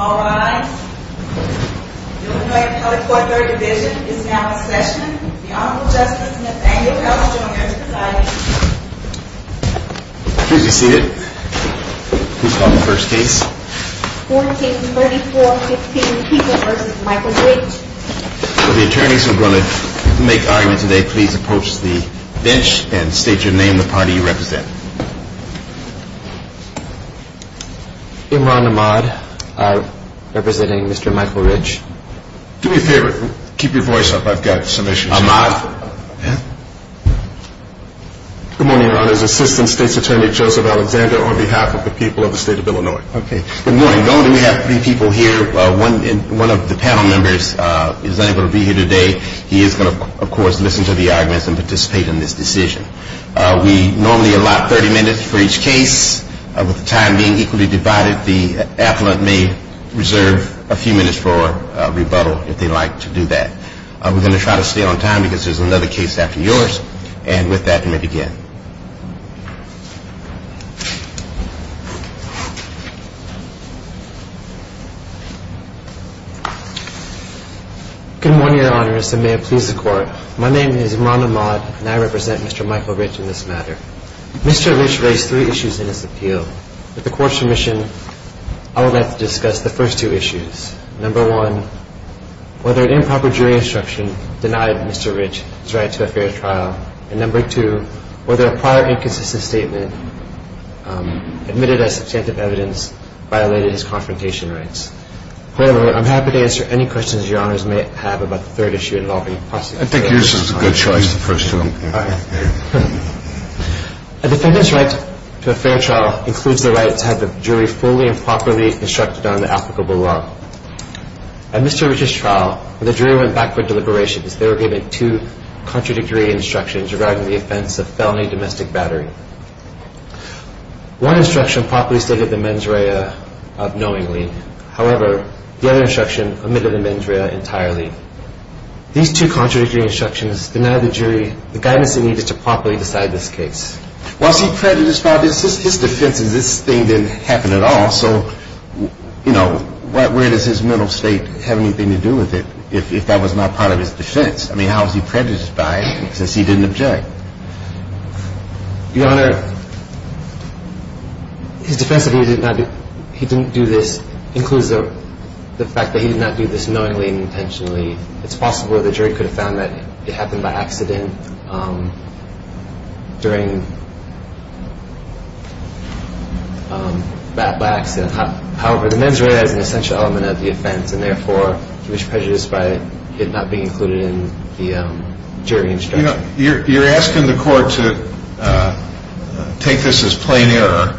All rise. The Illinois Appellate Court Third Division is now in session. The Honorable Justice Nathaniel L. Stoner is presiding. Please be seated. Who is calling the first case? 143415, Kiefer v. Michael Rich. Will the attorneys who are going to make argument today please approach the bench and state your name and the party you represent. Imran Ahmad, representing Mr. Michael Rich. Do me a favor. Keep your voice up. I've got some issues. Good morning, Your Honors. Assistant State's Attorney Joseph Alexander on behalf of the people of the state of Illinois. Okay. Good morning. Not only do we have three people here, one of the panel members is unable to be here today. He is going to, of course, listen to the arguments and participate in this decision. We normally allot 30 minutes for each case. With the time being equally divided, the appellate may reserve a few minutes for rebuttal if they'd like to do that. We're going to try to stay on time because there's another case after yours. And with that, may begin. Good morning, Your Honors, and may it please the Court. My name is Imran Ahmad, and I represent Mr. Michael Rich in this matter. Mr. Rich raised three issues in his appeal. With the Court's permission, I would like to discuss the first two issues. Number one, whether an improper jury instruction denied Mr. Rich his right to a fair trial. The prior inconsistent statement admitted as substantive evidence violated his confrontation rights. However, I'm happy to answer any questions Your Honors may have about the third issue involving prosecution. I think yours is a good choice, the first one. A defendant's right to a fair trial includes the right to have the jury fully and properly instructed on the applicable law. At Mr. Rich's trial, the jury went back for deliberations. They were given two contradictory instructions regarding the offense of felony domestic battery. One instruction properly stated the mens rea unknowingly. However, the other instruction omitted the mens rea entirely. These two contradictory instructions denied the jury the guidance it needed to properly decide this case. Was he prejudiced by this? His defense is this thing didn't happen at all. So, you know, where does his mental state have anything to do with it if that was not part of his defense? I mean, how is he prejudiced by it since he didn't object? Your Honor, his defense that he didn't do this includes the fact that he did not do this knowingly and intentionally. It's possible the jury could have found that it happened by accident during that accident. However, the mens rea is an essential element of the offense and therefore he was prejudiced by it not being included in the jury instruction. You know, you're asking the court to take this as plain error,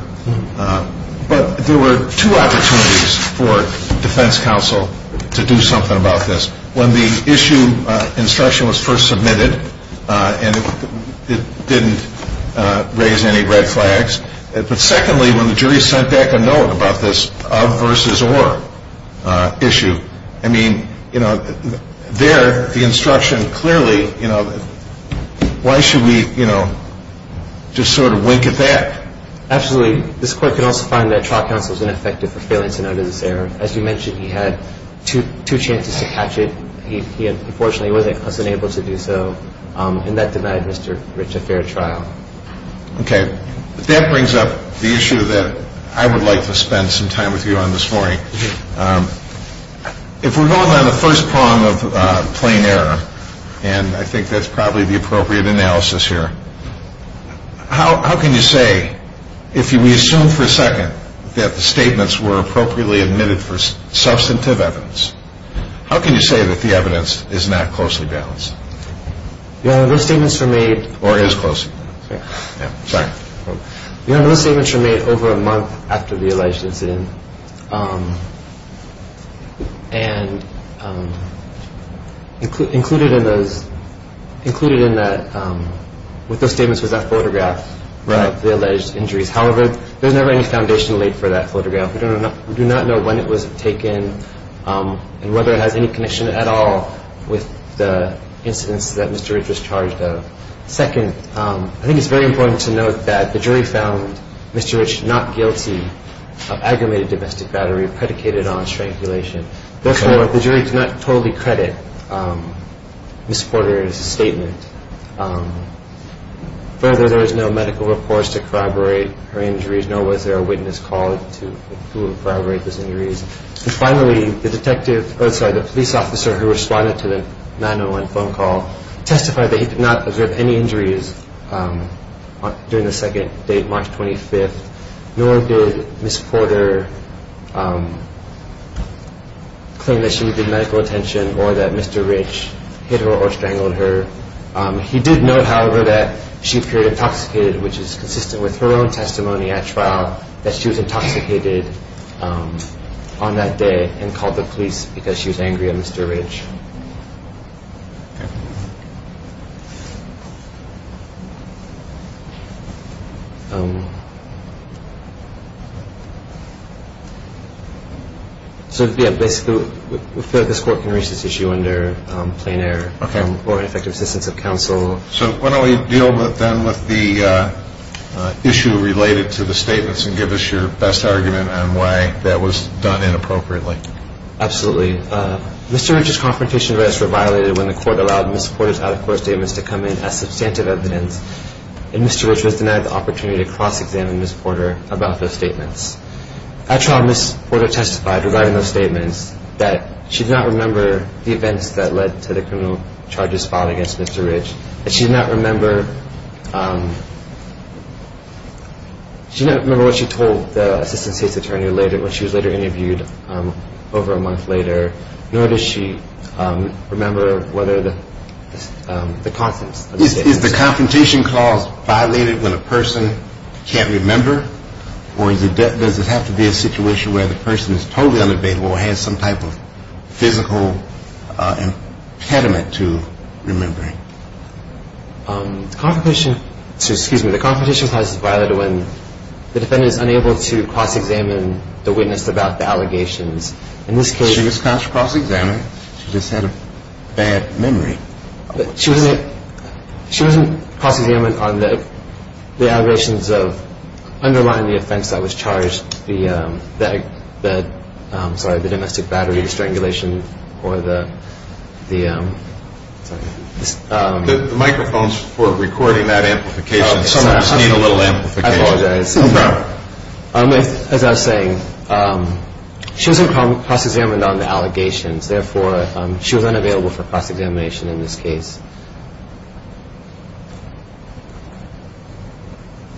but there were two opportunities for defense counsel to do something about this. When the issue instruction was first submitted and it didn't raise any red flags, but secondly when the jury sent back a note about this of versus or issue, I mean, you know, there the instruction clearly, you know, why should we, you know, just sort of wink at that? Absolutely. This court could also find that trial counsel is ineffective for failing to notice error. As you mentioned, he had two chances to catch it. He unfortunately wasn't able to do so and that denied Mr. Rich a fair trial. Okay. That brings up the issue that I would like to spend some time with you on this morning. If we're going on the first prong of plain error, and I think that's probably the appropriate analysis here, how can you say if we assume for a second that the statements were appropriately admitted for substantive evidence, how can you say that the evidence is not closely balanced? Your Honor, those statements were made. Or is closely balanced. Yeah. Sorry. Your Honor, those statements were made over a month after the alleged incident and included in those, included in that, with those statements was that photograph of the alleged injuries. However, there's never any foundation laid for that photograph. We do not know when it was taken and whether it has any connection at all with the incidents that Mr. Rich was charged of. Second, I think it's very important to note that the jury found Mr. Rich not guilty of aggravated assault. He was not guilty of domestic battery, predicated on strangulation. Therefore, the jury does not totally credit Ms. Porter's statement. Further, there was no medical reports to corroborate her injuries, nor was there a witness called to corroborate those injuries. And finally, the detective, oh, sorry, the police officer who responded to the 901 phone call testified that he did not observe any injuries during the second date, March 25th, nor did Ms. Porter claim that she needed medical attention or that Mr. Rich hit her or strangled her. He did note, however, that she appeared intoxicated, which is consistent with her own testimony at trial, that she was intoxicated on that day and called the police because she was angry at Mr. Rich. So, yeah, basically, we feel that this court can reach this issue under plain error or ineffective assistance of counsel. So why don't we deal then with the issue related to the statements and give us your best argument on why that was done inappropriately. Absolutely. The confrontation rights were violated when the court allowed Ms. Porter's out-of-court statements to come in as substantive evidence, and Mr. Rich was denied the opportunity to cross-examine Ms. Porter about those statements. At trial, Ms. Porter testified regarding those statements that she did not remember the events that led to the criminal charges filed against Mr. Rich, that she did not remember what she told the assistant state's attorney when she was later interviewed over a month later, nor does she remember whether the confidence of the state. Is the confrontation clause violated when a person can't remember, or does it have to be a situation where the person is totally unabated or has some type of physical impediment to remembering? The confrontation clause is violated when the defendant is unable to cross-examine the witness about the allegations. She was cross-examined. She just had a bad memory. She wasn't cross-examined on the allegations of underlying the offense that was charged, the domestic battery strangulation, or the... The microphones for recording that amplification. I apologize. No problem. As I was saying, she wasn't cross-examined on the allegations. Therefore, she was unavailable for cross-examination in this case.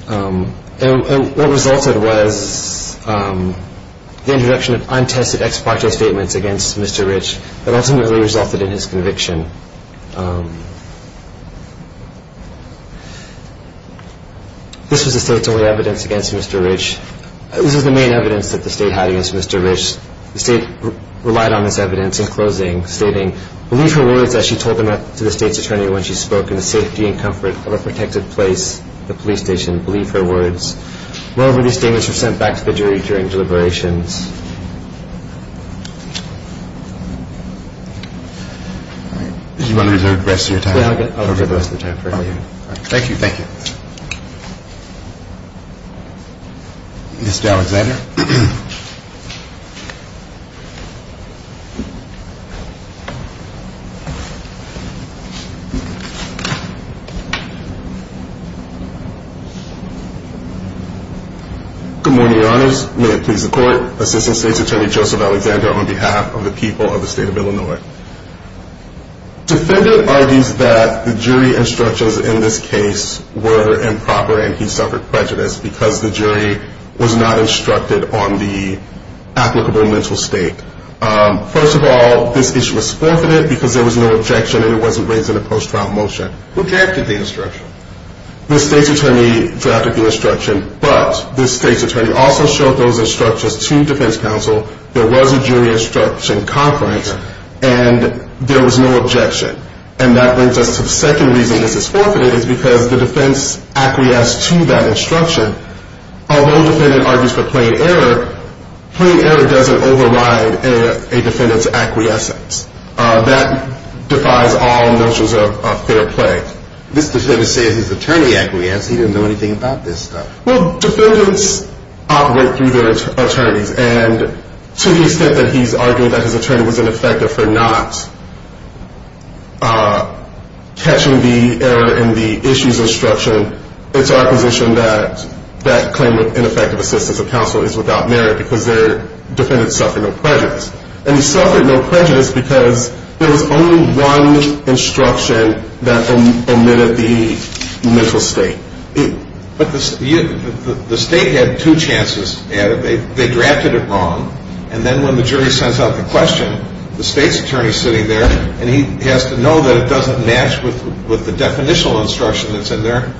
And what resulted was the introduction of untested ex parte statements against Mr. Rich that ultimately resulted in his conviction. This was the state's only evidence against Mr. Rich. This was the main evidence that the state had against Mr. Rich. The state relied on this evidence in closing, stating, believe her words as she told them to the state's attorney when she spoke, in the safety and comfort of a protected place, the police station. Believe her words. Moreover, these statements were sent back to the jury during deliberations. All right. Did you want to reserve the rest of your time? I'll reserve the rest of the time for you. Thank you. Thank you. Mr. Alexander. Good morning, Your Honors. May it please the Court. Assistant State's Attorney Joseph Alexander on behalf of the people of the state of Illinois. The defendant argues that the jury instructions in this case were improper and he suffered prejudice because the jury was not instructed on the applicable mental state. First of all, this issue was forfeited because there was no objection and it wasn't raised in a post-trial motion. Who drafted the instruction? The state's attorney drafted the instruction, but the state's attorney also showed those instructions to defense counsel. There was a jury instruction conference and there was no objection. And that brings us to the second reason this is forfeited is because the defense acquiesced to that instruction. Although the defendant argues for plain error, plain error doesn't override a defendant's acquiescence. That defies all notions of fair play. This defendant said his attorney acquiesced. He didn't know anything about this stuff. Well, defendants operate through their attorneys. And to the extent that he's arguing that his attorney was ineffective for not catching the error in the issues instruction, it's our position that that claim of ineffective assistance of counsel is without merit because their defendants suffered no prejudice. And he suffered no prejudice because there was only one instruction that omitted the mental state. But the state had two chances at it. They drafted it wrong, and then when the jury sends out the question, the state's attorney is sitting there and he has to know that it doesn't match with the definitional instruction that's in there.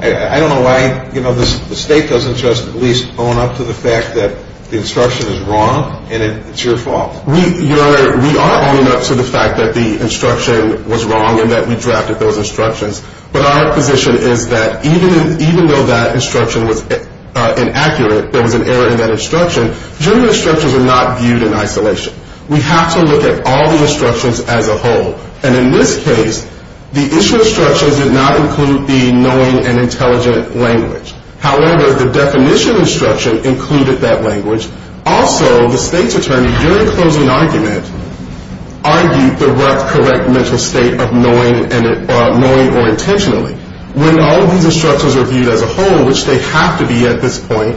I don't know why the state doesn't just at least own up to the fact that the instruction is wrong and it's your fault. Your Honor, we are owning up to the fact that the instruction was wrong and that we drafted those instructions. But our position is that even though that instruction was inaccurate, there was an error in that instruction, jury instructions are not viewed in isolation. We have to look at all the instructions as a whole. And in this case, the issue instructions did not include the knowing and intelligent language. However, the definition instruction included that language. Also, the state's attorney, during closing argument, argued the correct mental state of knowing or intentionally. When all of these instructions are viewed as a whole, which they have to be at this point,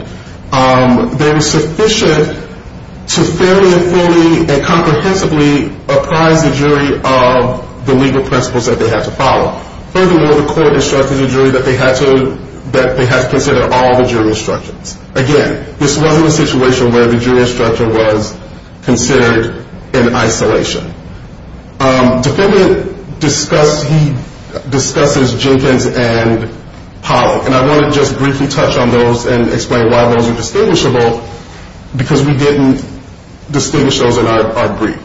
they were sufficient to fairly and fully and comprehensively apprise the jury of the legal principles that they had to follow. Furthermore, the court instructed the jury that they had to consider all the jury instructions. Again, this wasn't a situation where the jury instruction was considered in isolation. Defendant discusses Jenkins and Pollock. And I want to just briefly touch on those and explain why those are distinguishable because we didn't distinguish those in our brief.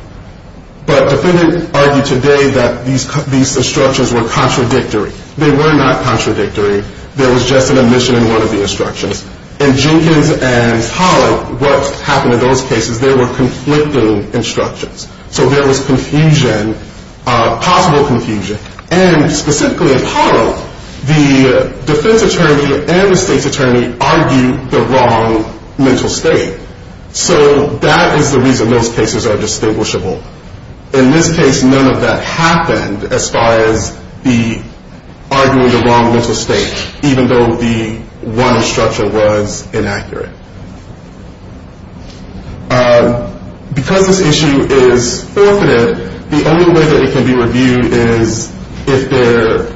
But defendant argued today that these instructions were contradictory. They were not contradictory. There was just an omission in one of the instructions. In Jenkins and Pollock, what happened in those cases, they were conflicting instructions. So there was confusion, possible confusion. And specifically in Pollock, the defense attorney and the state's attorney argued the wrong mental state. So that is the reason those cases are distinguishable. In this case, none of that happened as far as the arguing the wrong mental state, even though the one instruction was inaccurate. Because this issue is forfeited, the only way that it can be reviewed is if there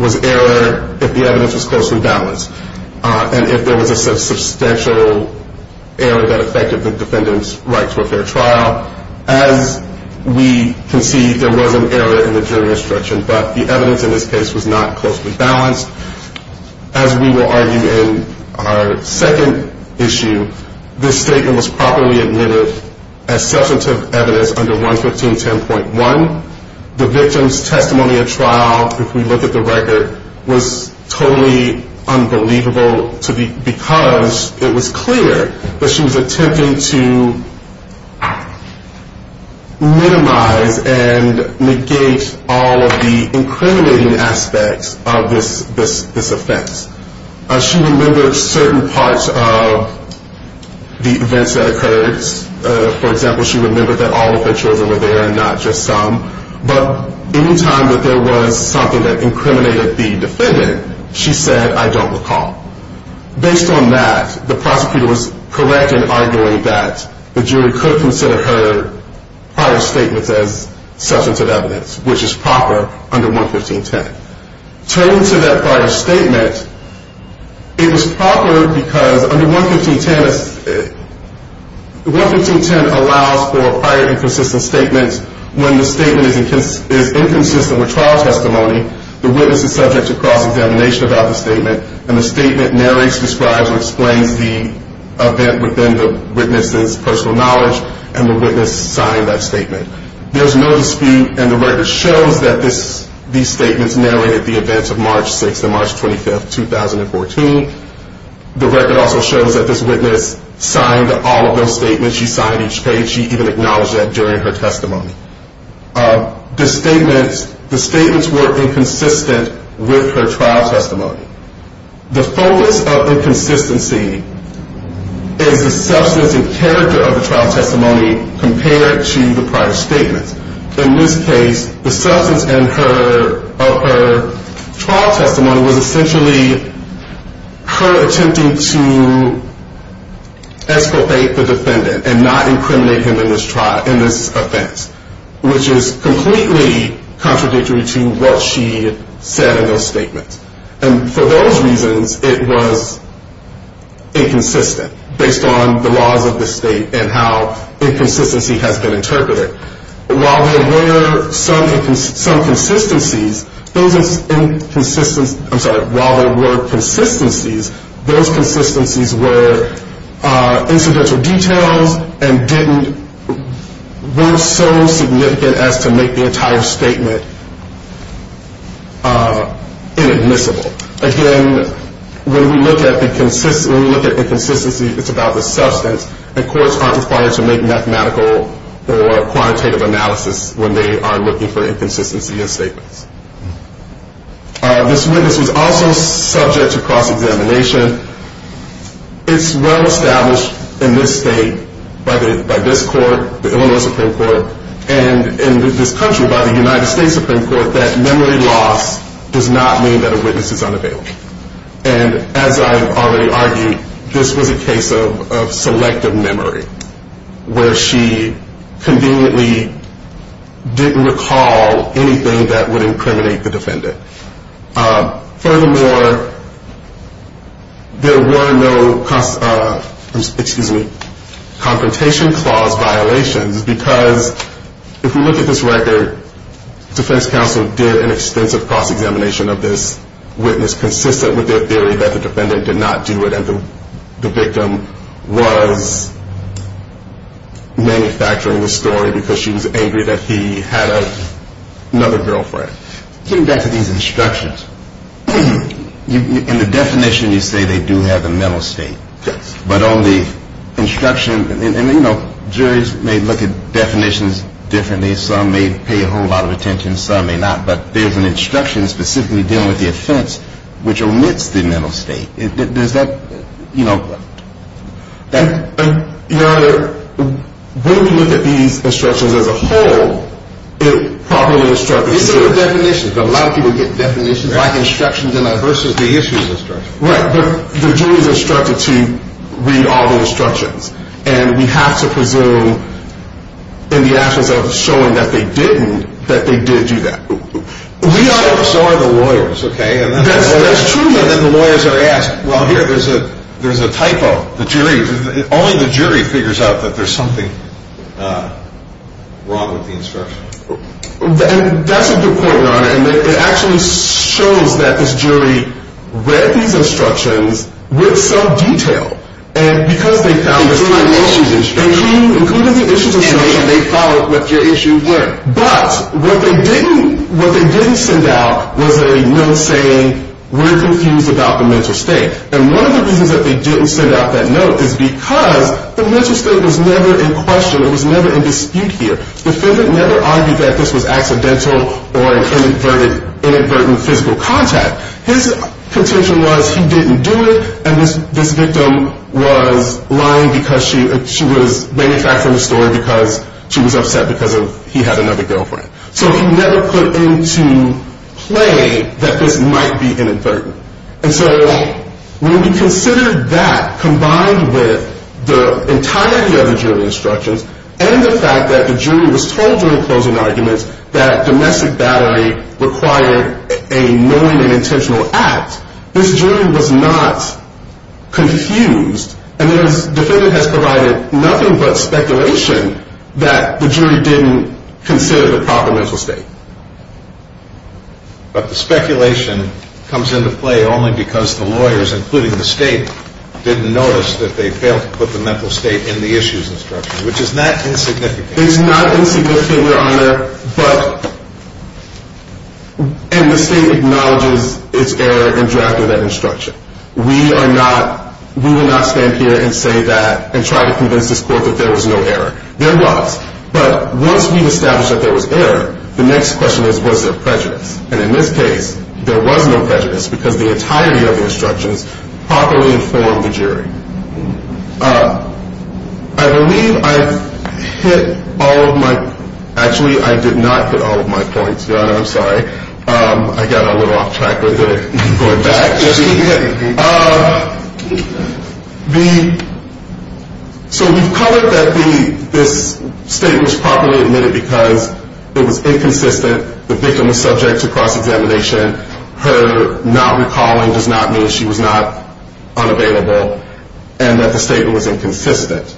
was error, if the evidence was closely balanced, and if there was a substantial error that affected the defendant's right to a fair trial. As we can see, there was an error in the jury instruction, but the evidence in this case was not closely balanced. As we will argue in our second issue, this statement was properly admitted as substantive evidence under 11510.1. The victim's testimony at trial, if we look at the record, was totally unbelievable because it was clear that she was attempting to minimize and negate all of the incriminating aspects of this offense. She remembered certain parts of the events that occurred. For example, she remembered that all of her children were there and not just some. But any time that there was something that incriminated the defendant, she said, I don't recall. Based on that, the prosecutor was correct in arguing that the jury could consider her prior statements as substantive evidence, which is proper under 11510. Turning to that prior statement, it was proper because under 11510, 11510 allows for prior inconsistent statements when the statement is inconsistent with trial testimony, the witness is subject to cross-examination about the statement, and the statement narrates, describes, or explains the event within the witness's personal knowledge, and the witness signed that statement. There's no dispute, and the record shows that these statements narrated the events of March 6th and March 25th, 2014. The record also shows that this witness signed all of those statements. She signed each page. She even acknowledged that during her testimony. The statements were inconsistent with her trial testimony. The focus of inconsistency is the substance and character of the trial testimony compared to the prior statements. In this case, the substance of her trial testimony was essentially her attempting to escalate the defendant and not incriminate him in this offense, which is completely contradictory to what she said in those statements. And for those reasons, it was inconsistent based on the laws of the state and how inconsistency has been interpreted. While there were some consistencies, those inconsistencies were incidental details and weren't so significant as to make the entire statement inadmissible. Again, when we look at inconsistency, it's about the substance, and courts aren't required to make mathematical or quantitative analysis when they are looking for inconsistency in statements. This witness was also subject to cross-examination. It's well established in this state by this court, the Illinois Supreme Court, and in this country by the United States Supreme Court, that memory loss does not mean that a witness is unavailable. And as I've already argued, this was a case of selective memory, where she conveniently didn't recall anything that would incriminate the defendant. Furthermore, there were no confrontation clause violations, because if you look at this record, defense counsel did an extensive cross-examination of this witness, consistent with their theory that the defendant did not do it and the victim was manufacturing the story because she was angry that he had another girlfriend. Getting back to these instructions, in the definition you say they do have a mental state. Yes. But on the instruction, and, you know, juries may look at definitions differently. Some may pay a whole lot of attention. Some may not. But there's an instruction specifically dealing with the offense which omits the mental state. Does that, you know, that... Your Honor, when we look at these instructions as a whole, it properly instructs us... These are the definitions. A lot of people get definitions like instructions versus the issues instructions. Right, but the jury is instructed to read all the instructions, and we have to presume in the absence of showing that they didn't, that they did do that. So are the lawyers, okay? That's true. And then the lawyers are asked, well, here, there's a typo. Only the jury figures out that there's something wrong with the instruction. And that's a good point, Your Honor, and it actually shows that this jury read these instructions with some detail. And because they found... Including the issues instructions. Including the issues instructions. And they followed what your issues were. But what they didn't send out was a note saying we're confused about the mental state. And one of the reasons that they didn't send out that note is because the mental state was never in question. It was never in dispute here. The defendant never argued that this was accidental or inadvertent physical contact. His contention was he didn't do it, and this victim was lying because she was manufacturing the story because she was upset because he had another girlfriend. So he never put into play that this might be inadvertent. And so when we consider that combined with the entirety of the jury instructions and the fact that the jury was told during closing arguments that domestic battery required a knowing and intentional act, this jury was not confused, and the defendant has provided nothing but speculation that the jury didn't consider the proper mental state. But the speculation comes into play only because the lawyers, including the state, didn't notice that they failed to put the mental state in the issues instruction, which is not insignificant. It's not insignificant, Your Honor, and the state acknowledges its error in drafting that instruction. We will not stand here and say that and try to convince this court that there was no error. There was, but once we've established that there was error, the next question is was there prejudice? And in this case, there was no prejudice because the entirety of the instructions properly informed the jury. I believe I've hit all of my – actually, I did not hit all of my points, Your Honor. I'm sorry. I got a little off track with it going back. So we've covered that this statement was properly admitted because it was inconsistent. The victim was subject to cross-examination. Her not recalling does not mean she was not unavailable and that the statement was inconsistent.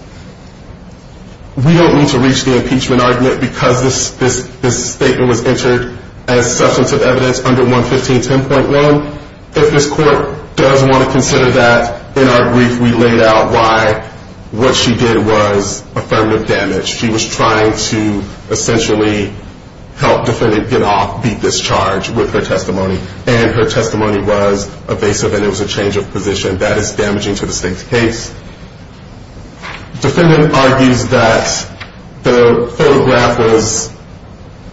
We don't need to reach the impeachment argument because this statement was entered as substantive evidence under 11510.1. If this court does want to consider that, in our brief, we laid out why what she did was affirmative damage. She was trying to essentially help defendant get off, beat this charge with her testimony, and her testimony was evasive and it was a change of position. That is damaging to the state's case. Defendant argues that the photograph was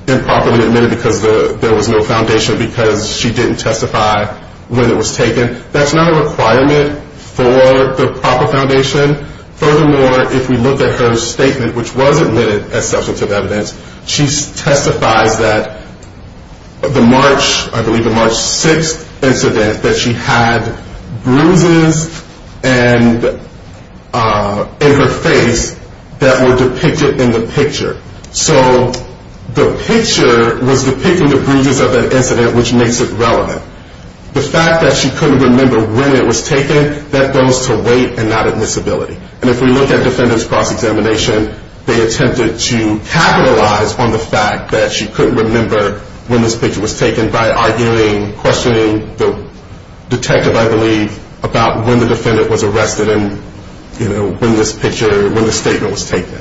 improperly admitted because there was no foundation, because she didn't testify when it was taken. That's not a requirement for the proper foundation. Furthermore, if we look at her statement, which was admitted as substantive evidence, she testifies that the March 6th incident that she had bruises in her face that were depicted in the picture. So the picture was depicting the bruises of that incident, which makes it relevant. The fact that she couldn't remember when it was taken, that goes to weight and not admissibility. And if we look at defendant's cross-examination, they attempted to capitalize on the fact that she couldn't remember when this picture was taken by arguing, questioning the detective, I believe, about when the defendant was arrested and when the statement was taken.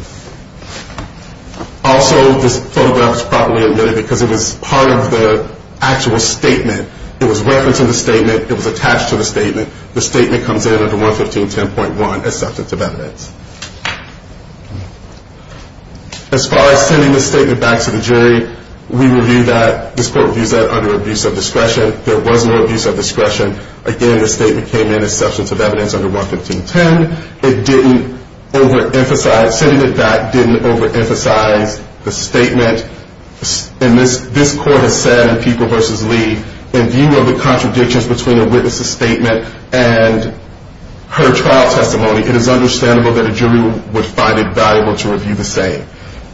Also, this photograph was improperly admitted because it was part of the actual statement. It was referenced in the statement. It was attached to the statement. The statement comes in under 11510.1 as substantive evidence. As far as sending the statement back to the jury, we review that. This court reviews that under abuse of discretion. There was no abuse of discretion. Again, the statement came in as substantive evidence under 11510. Again, it didn't overemphasize, sending it back didn't overemphasize the statement. And this court has said in People v. Lee, in view of the contradictions between the witness's statement and her trial testimony, it is understandable that a jury would find it valuable to review the same.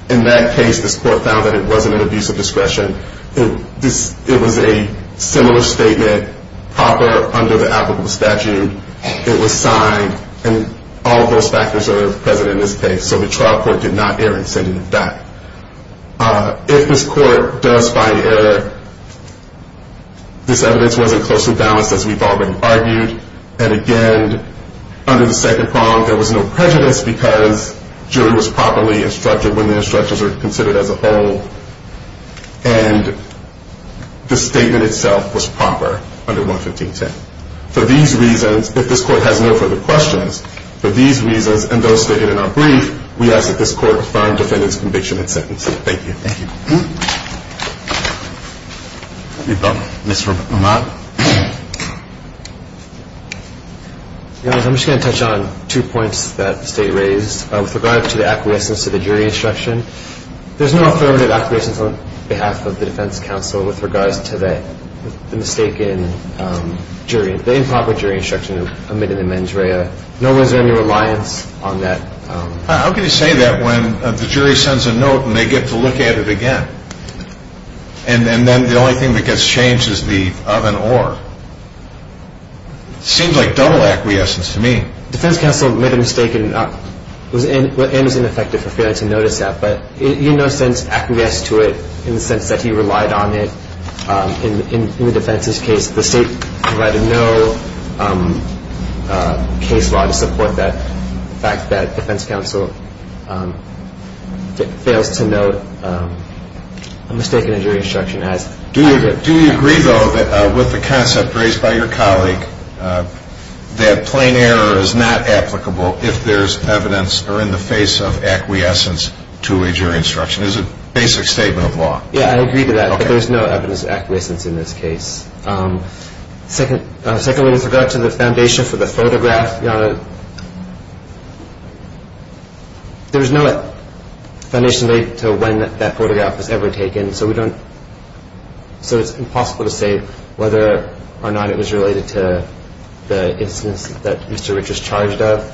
In that case, this court found that it wasn't an abuse of discretion. It was a similar statement, proper under the applicable statute. It was signed, and all of those factors are present in this case. So the trial court did not err in sending it back. If this court does find error, this evidence wasn't closely balanced as we've already argued. And again, under the second prong, there was no prejudice because jury was properly instructed when the instructions are considered as a whole. And the statement itself was proper under 11510. For these reasons, if this court has no further questions, for these reasons and those stated in our brief, we ask that this court confirm defendant's conviction and sentence. Thank you. Thank you. Mr. O'Mahon. I'm just going to touch on two points that the State raised with regard to the acquiescence to the jury instruction. There's no affirmative acquiescence on behalf of the defense counsel with regards to the mistaken jury, the improper jury instruction omitted in the mens rea. Nor was there any reliance on that. How can you say that when the jury sends a note and they get to look at it again? And then the only thing that gets changed is the of and or? Seems like double acquiescence to me. The defense counsel made a mistake and was ineffective for failing to notice that. But in no sense acquiesced to it in the sense that he relied on it in the defense's case. The State provided no case law to support that fact that defense counsel fails to note a mistake in a jury instruction. Do you agree, though, with the concept raised by your colleague that plain error is not applicable if there's evidence or in the face of acquiescence to a jury instruction? Is it a basic statement of law? Yeah, I agree to that. But there's no evidence of acquiescence in this case. Secondly, with regard to the foundation for the photograph, there was no foundation to when that photograph was ever taken, so it's impossible to say whether or not it was related to the instance that Mr. Richards charged of.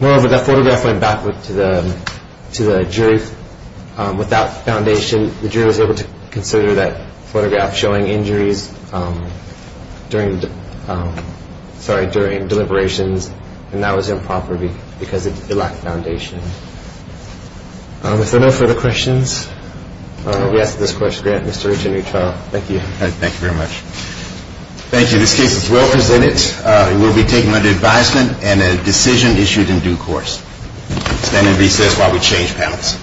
Moreover, that photograph went back to the jury without foundation. The jury was able to consider that photograph showing injuries during deliberations, and that was improper because it lacked foundation. If there are no further questions, we ask that this court grant Mr. Richards a new trial. Thank you. Thank you very much. Thank you. This case is well presented. It will be taken under advisement and a decision issued in due course. Stand in recess while we change panels.